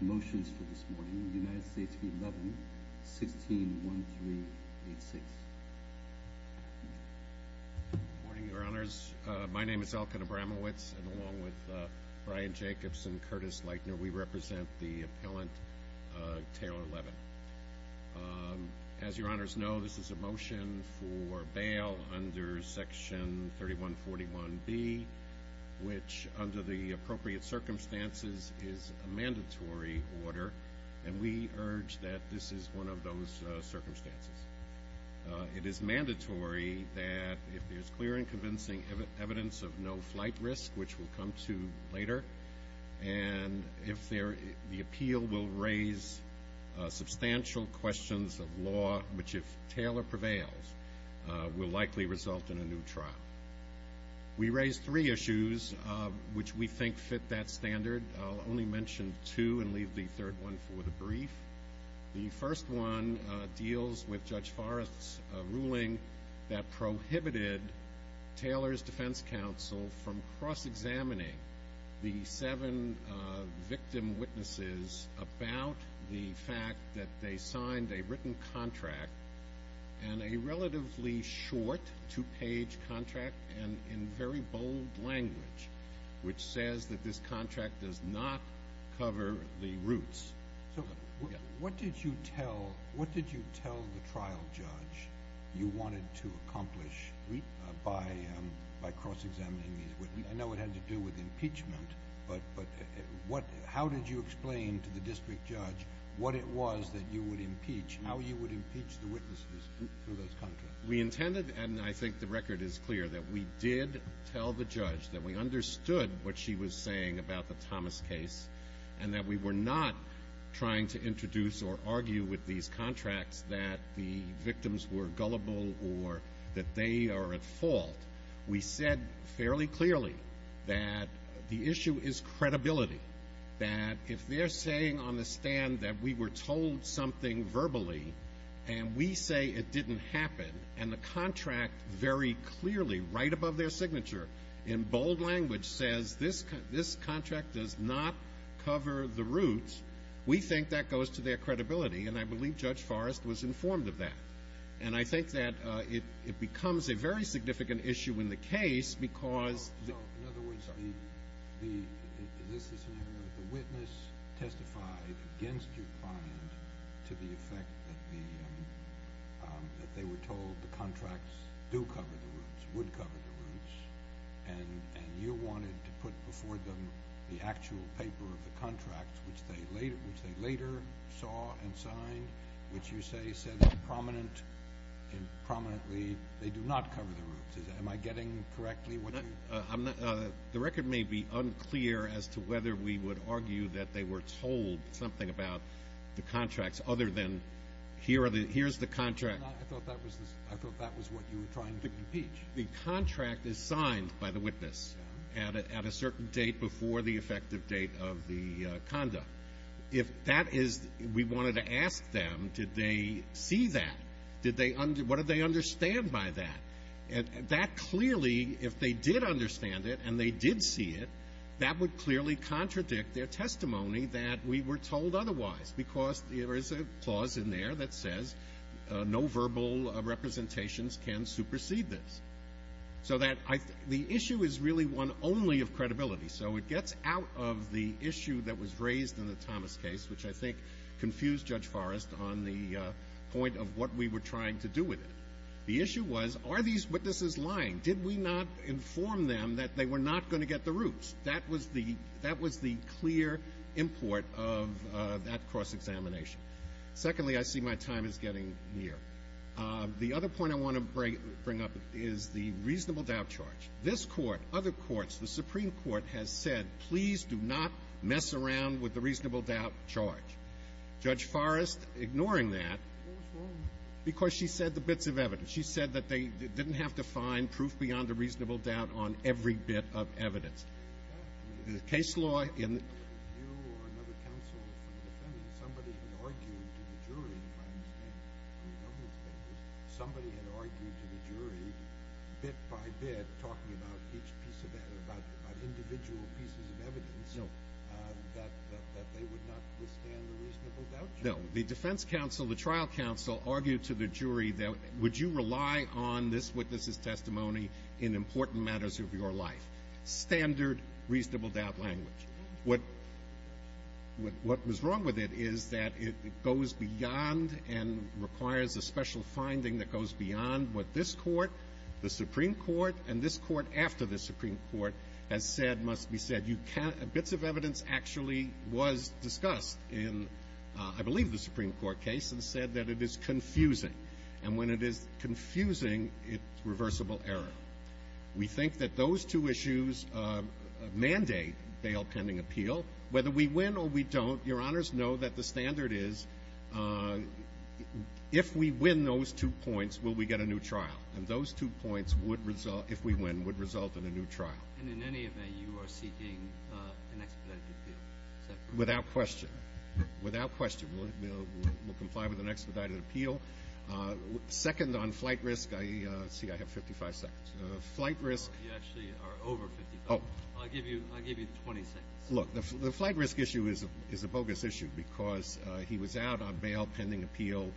Motions for this morning, United States v. Levin, 161386. Good morning, your honors. My name is Elkin Abramowitz, and along with Brian Jacobs and Curtis Leitner, we represent the appellant, Taylor Levin. As your honors know, this is a motion for bail under Section 3141B, which, under the appropriate circumstances, is a mandatory order, and we urge that this is one of those circumstances. It is mandatory that if there's clear and convincing evidence of no flight risk, which we'll come to later, and if the appeal will raise substantial questions of law, which, if Taylor prevails, will likely result in a new trial. We raised three issues which we think fit that standard. I'll only mention two and leave the third one for the brief. The first one deals with Judge Forrest's ruling that prohibited Taylor's defense counsel from cross-examining the seven victim witnesses about the fact that they signed a written contract and a relatively short, two-page contract, and in very bold language, which says that this contract does not cover the roots. So what did you tell the trial judge you wanted to accomplish by cross-examining these witnesses? I know it had to do with impeachment, but how did you explain to the district judge what it was that you would impeach, how you would impeach the witnesses through those contracts? We intended, and I think the record is clear, that we did tell the judge that we understood what she was saying about the Thomas case and that we were not trying to introduce or argue with these contracts that the victims were gullible or that they are at fault. We said fairly clearly that the issue is credibility, that if they're saying on the stand that we were told something verbally and we say it didn't happen and the contract very clearly, right above their signature, in bold language, says this contract does not cover the roots, we think that goes to their credibility, and I believe Judge Forrest was informed of that. And I think that it becomes a very significant issue in the case because – The record may be unclear as to whether we would argue that they were told something about the contracts other than here are the – here's the contract. I thought that was what you were trying to impeach. The contract is signed by the witness at a certain date before the effective date of the conduct. If that is – we wanted to ask them, did they see that? Did they – what did they understand by that? And that clearly, if they did understand it and they did see it, that would clearly contradict their testimony that we were told otherwise because there is a clause in there that says no verbal representations can supersede this. So that – the issue is really one only of credibility. So it gets out of the issue that was raised in the Thomas case, which I think confused Judge Forrest on the point of what we were trying to do with it. The issue was, are these witnesses lying? Did we not inform them that they were not going to get the roots? That was the – that was the clear import of that cross-examination. Secondly, I see my time is getting near. The other point I want to bring up is the reasonable doubt charge. This Court, other courts, the Supreme Court has said, please do not mess around with the reasonable doubt charge. Judge Forrest ignoring that because she said the bits of evidence. She said that they didn't have to find proof beyond a reasonable doubt on every bit of evidence. The case law in – No, the defense counsel, the trial counsel argued to the jury that would you rely on this witness's testimony in important matters of your life? Standard reasonable doubt language. What – what was wrong with it is that it goes beyond and requires a special finding that goes beyond what this Court, the Supreme Court, and this Court after the Supreme Court has said must be said. You can't – bits of evidence actually was discussed in, I believe, the Supreme Court case and said that it is confusing. And when it is confusing, it's reversible error. We think that those two issues mandate bail pending appeal. Whether we win or we don't, Your Honors, know that the standard is if we win those two points, will we get a new trial? And those two points would result – if we win, would result in a new trial. And in any event, you are seeking an expedited appeal? Without question. Without question. We'll comply with an expedited appeal. Second, on flight risk, I – let's see, I have 55 seconds. Flight risk – You actually are over 55. I'll give you – I'll give you 20 seconds. Look, the flight risk issue is a bogus issue because he was out on bail pending appeal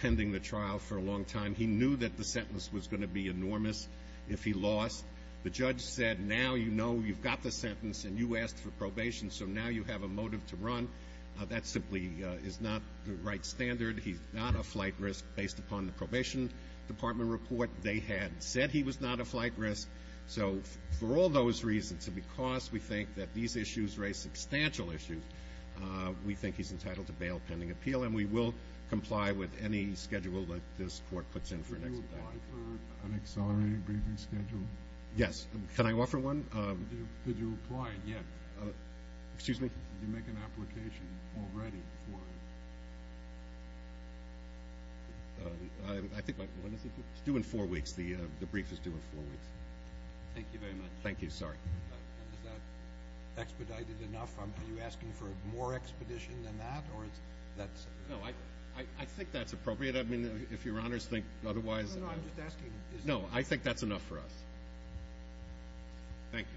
pending the trial for a long time. He knew that the sentence was going to be enormous if he lost. The judge said, now you know you've got the sentence and you asked for probation, so now you have a motive to run. That simply is not the right standard. He's not a flight risk based upon the probation department report. They had said he was not a flight risk. So for all those reasons, and because we think that these issues raise substantial issues, we think he's entitled to bail pending appeal, and we will comply with any schedule that this court puts in for an expedited appeal. Could you apply for an accelerated briefing schedule? Yes. Can I offer one? Could you apply yet? Excuse me? Did you make an application already for it? I think my – when is it due? It's due in four weeks. The brief is due in four weeks. Thank you very much. Thank you. Sorry. Is that expedited enough? Are you asking for more expedition than that, or is that – No, I think that's appropriate. I mean, if Your Honors think otherwise. No, no, I'm just asking. No, I think that's enough for us. Thank you.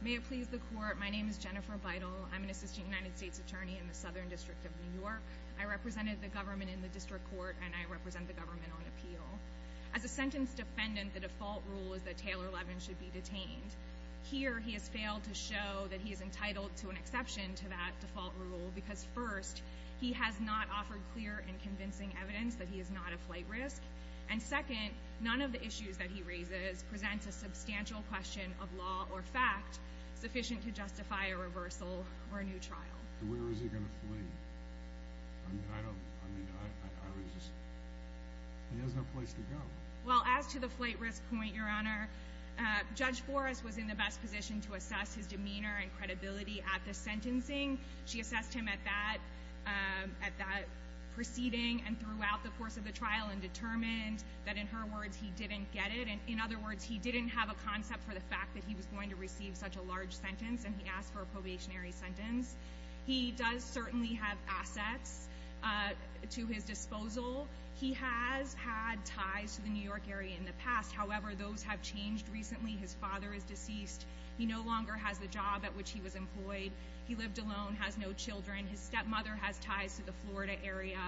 May it please the Court, my name is Jennifer Beidle. I'm an assistant United States attorney in the Southern District of New York. I represented the government in the district court, and I represent the government on appeal. As a sentence defendant, the default rule is that Taylor Levin should be detained. Here, he has failed to show that he is entitled to an exception to that default rule, because first, he has not offered clear and convincing evidence that he is not a flight risk. And second, none of the issues that he raises presents a substantial question of law or fact sufficient to justify a reversal or a new trial. Where is he going to flee? I mean, I don't – I mean, I was just – he has no place to go. Well, as to the flight risk point, Your Honor, Judge Forrest was in the best position to assess his demeanor and credibility at the sentencing. She assessed him at that – at that proceeding and throughout the course of the trial and determined that, in her words, he didn't get it. In other words, he didn't have a concept for the fact that he was going to receive such a large sentence, and he asked for a probationary sentence. He does certainly have assets to his disposal. He has had ties to the New York area in the past. However, those have changed recently. His father is deceased. He no longer has the job at which he was employed. He lived alone, has no children. His stepmother has ties to the Florida area,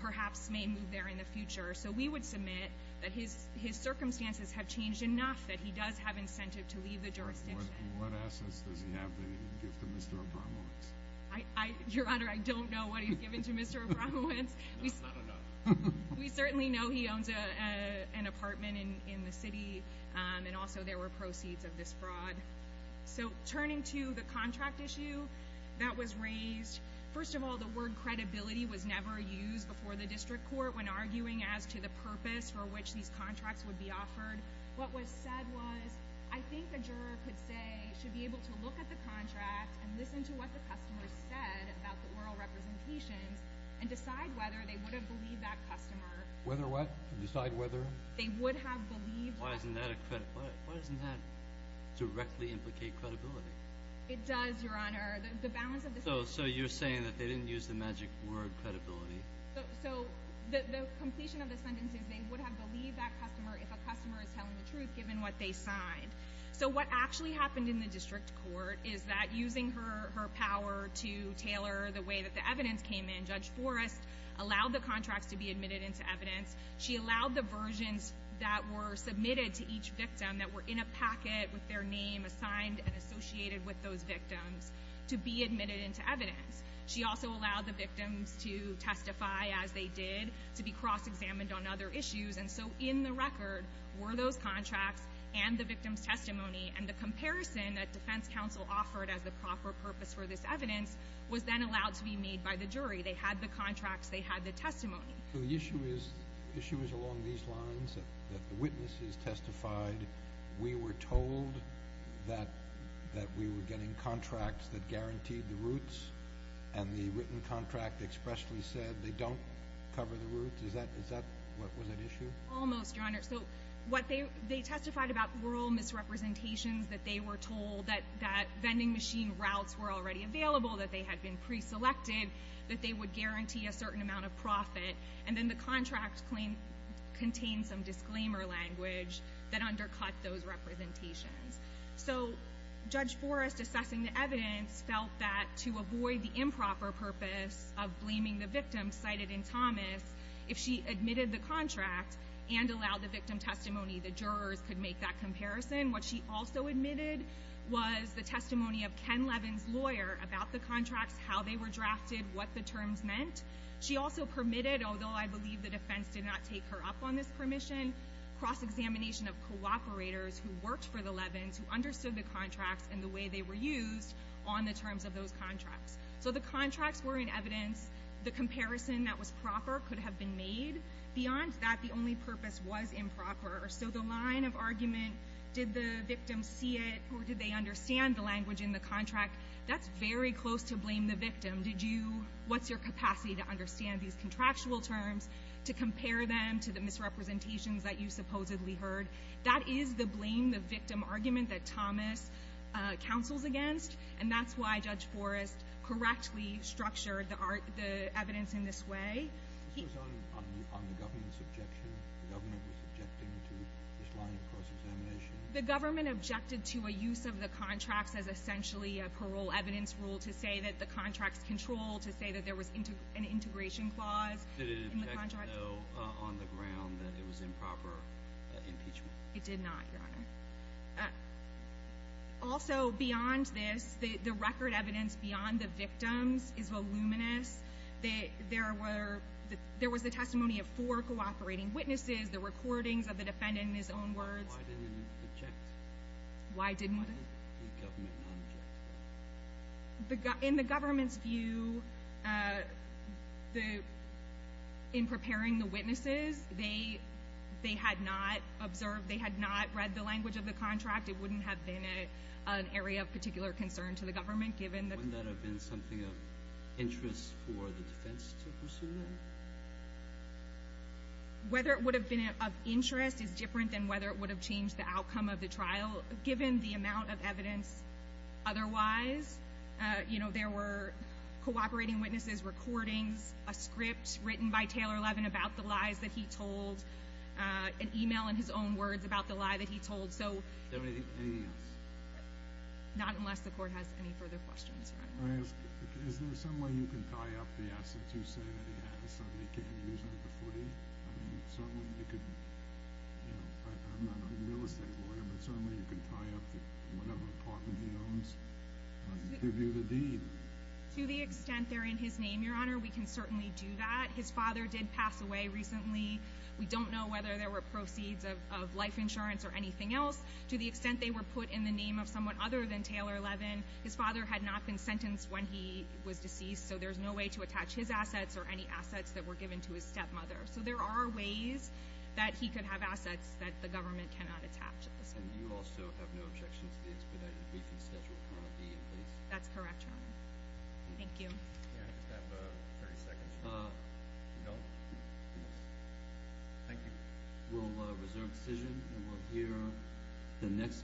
perhaps may move there in the future. So we would submit that his circumstances have changed enough that he does have incentive to leave the jurisdiction. What assets does he have that he can give to Mr. Obramowicz? Your Honor, I don't know what he's given to Mr. Obramowicz. That's not enough. We certainly know he owns an apartment in the city, and also there were proceeds of this fraud. So turning to the contract issue that was raised, first of all, the word credibility was never used before the district court when arguing as to the purpose for which these contracts would be offered. What was said was, I think the juror could say, should be able to look at the contract and listen to what the customer said about the oral representations and decide whether they would have believed that customer. Whether what? Decide whether? They would have believed that. Why isn't that a credibility? Why doesn't that directly implicate credibility? It does, Your Honor. So you're saying that they didn't use the magic word credibility? So the completion of the sentence is they would have believed that customer if a customer is telling the truth given what they signed. So what actually happened in the district court is that using her power to tailor the way that the evidence came in, Judge Forrest allowed the contracts to be admitted into evidence. She allowed the versions that were submitted to each victim that were in a packet with their name assigned and associated with those victims to be admitted into evidence. She also allowed the victims to testify as they did, to be cross-examined on other issues. And so in the record were those contracts and the victim's testimony, and the comparison that defense counsel offered as the proper purpose for this evidence was then allowed to be made by the jury. They had the contracts. They had the testimony. So the issue is along these lines that the witnesses testified. We were told that we were getting contracts that guaranteed the roots, and the written contract expressly said they don't cover the roots. Is that what was at issue? Almost, Your Honor. So they testified about rural misrepresentations, that they were told that vending machine routes were already available, that they had been preselected, that they would guarantee a certain amount of profit. And then the contract contained some disclaimer language that undercut those representations. So Judge Forrest, assessing the evidence, felt that to avoid the improper purpose of blaming the victim cited in Thomas, if she admitted the contract and allowed the victim testimony, the jurors could make that comparison. What she also admitted was the testimony of Ken Levin's lawyer about the contracts, how they were drafted, what the terms meant. She also permitted, although I believe the defense did not take her up on this permission, cross-examination of cooperators who worked for the Levins, who understood the contracts and the way they were used on the terms of those contracts. So the contracts were in evidence. The comparison that was proper could have been made. Beyond that, the only purpose was improper. So the line of argument, did the victim see it or did they understand the language in the contract, that's very close to blame the victim. Did you, what's your capacity to understand these contractual terms, to compare them to the misrepresentations that you supposedly heard? That is the blame the victim argument that Thomas counsels against, and that's why Judge Forrest correctly structured the evidence in this way. This was on the government's objection? The government was objecting to this line of cross-examination? The government objected to a use of the contracts as essentially a parole evidence rule to say that the contracts controlled, to say that there was an integration clause in the contract? Did it object, though, on the ground that it was improper impeachment? It did not, Your Honor. Also, beyond this, the record evidence beyond the victims is voluminous. There was the testimony of four cooperating witnesses, the recordings of the defendant in his own words. Why didn't it object? Why didn't what? Why did the government not object? In the government's view, in preparing the witnesses, they had not observed, they had not read the language of the contract. It wouldn't have been an area of particular concern to the government, given that. Wouldn't that have been something of interest for the defense to pursue that? Whether it would have been of interest is different than whether it would have changed the outcome of the trial, given the amount of evidence otherwise. You know, there were cooperating witnesses, recordings, a script written by Taylor Levin about the lies that he told, an email in his own words about the lie that he told. Anything else? Not unless the court has any further questions. Is there some way you can tie up the assets you say that it has so they can't use it for footing? I mean, certainly they could, you know, I'm not a real estate lawyer, but certainly you can tie up whatever apartment he owns to do the deed. To the extent they're in his name, Your Honor, we can certainly do that. His father did pass away recently. We don't know whether there were proceeds of life insurance or anything else. To the extent they were put in the name of someone other than Taylor Levin, his father had not been sentenced when he was deceased, so there's no way to attach his assets or any assets that were given to his stepmother. So there are ways that he could have assets that the government cannot attach. And you also have no objections to the expedited briefing schedule? That's correct, Your Honor. Thank you. Thank you.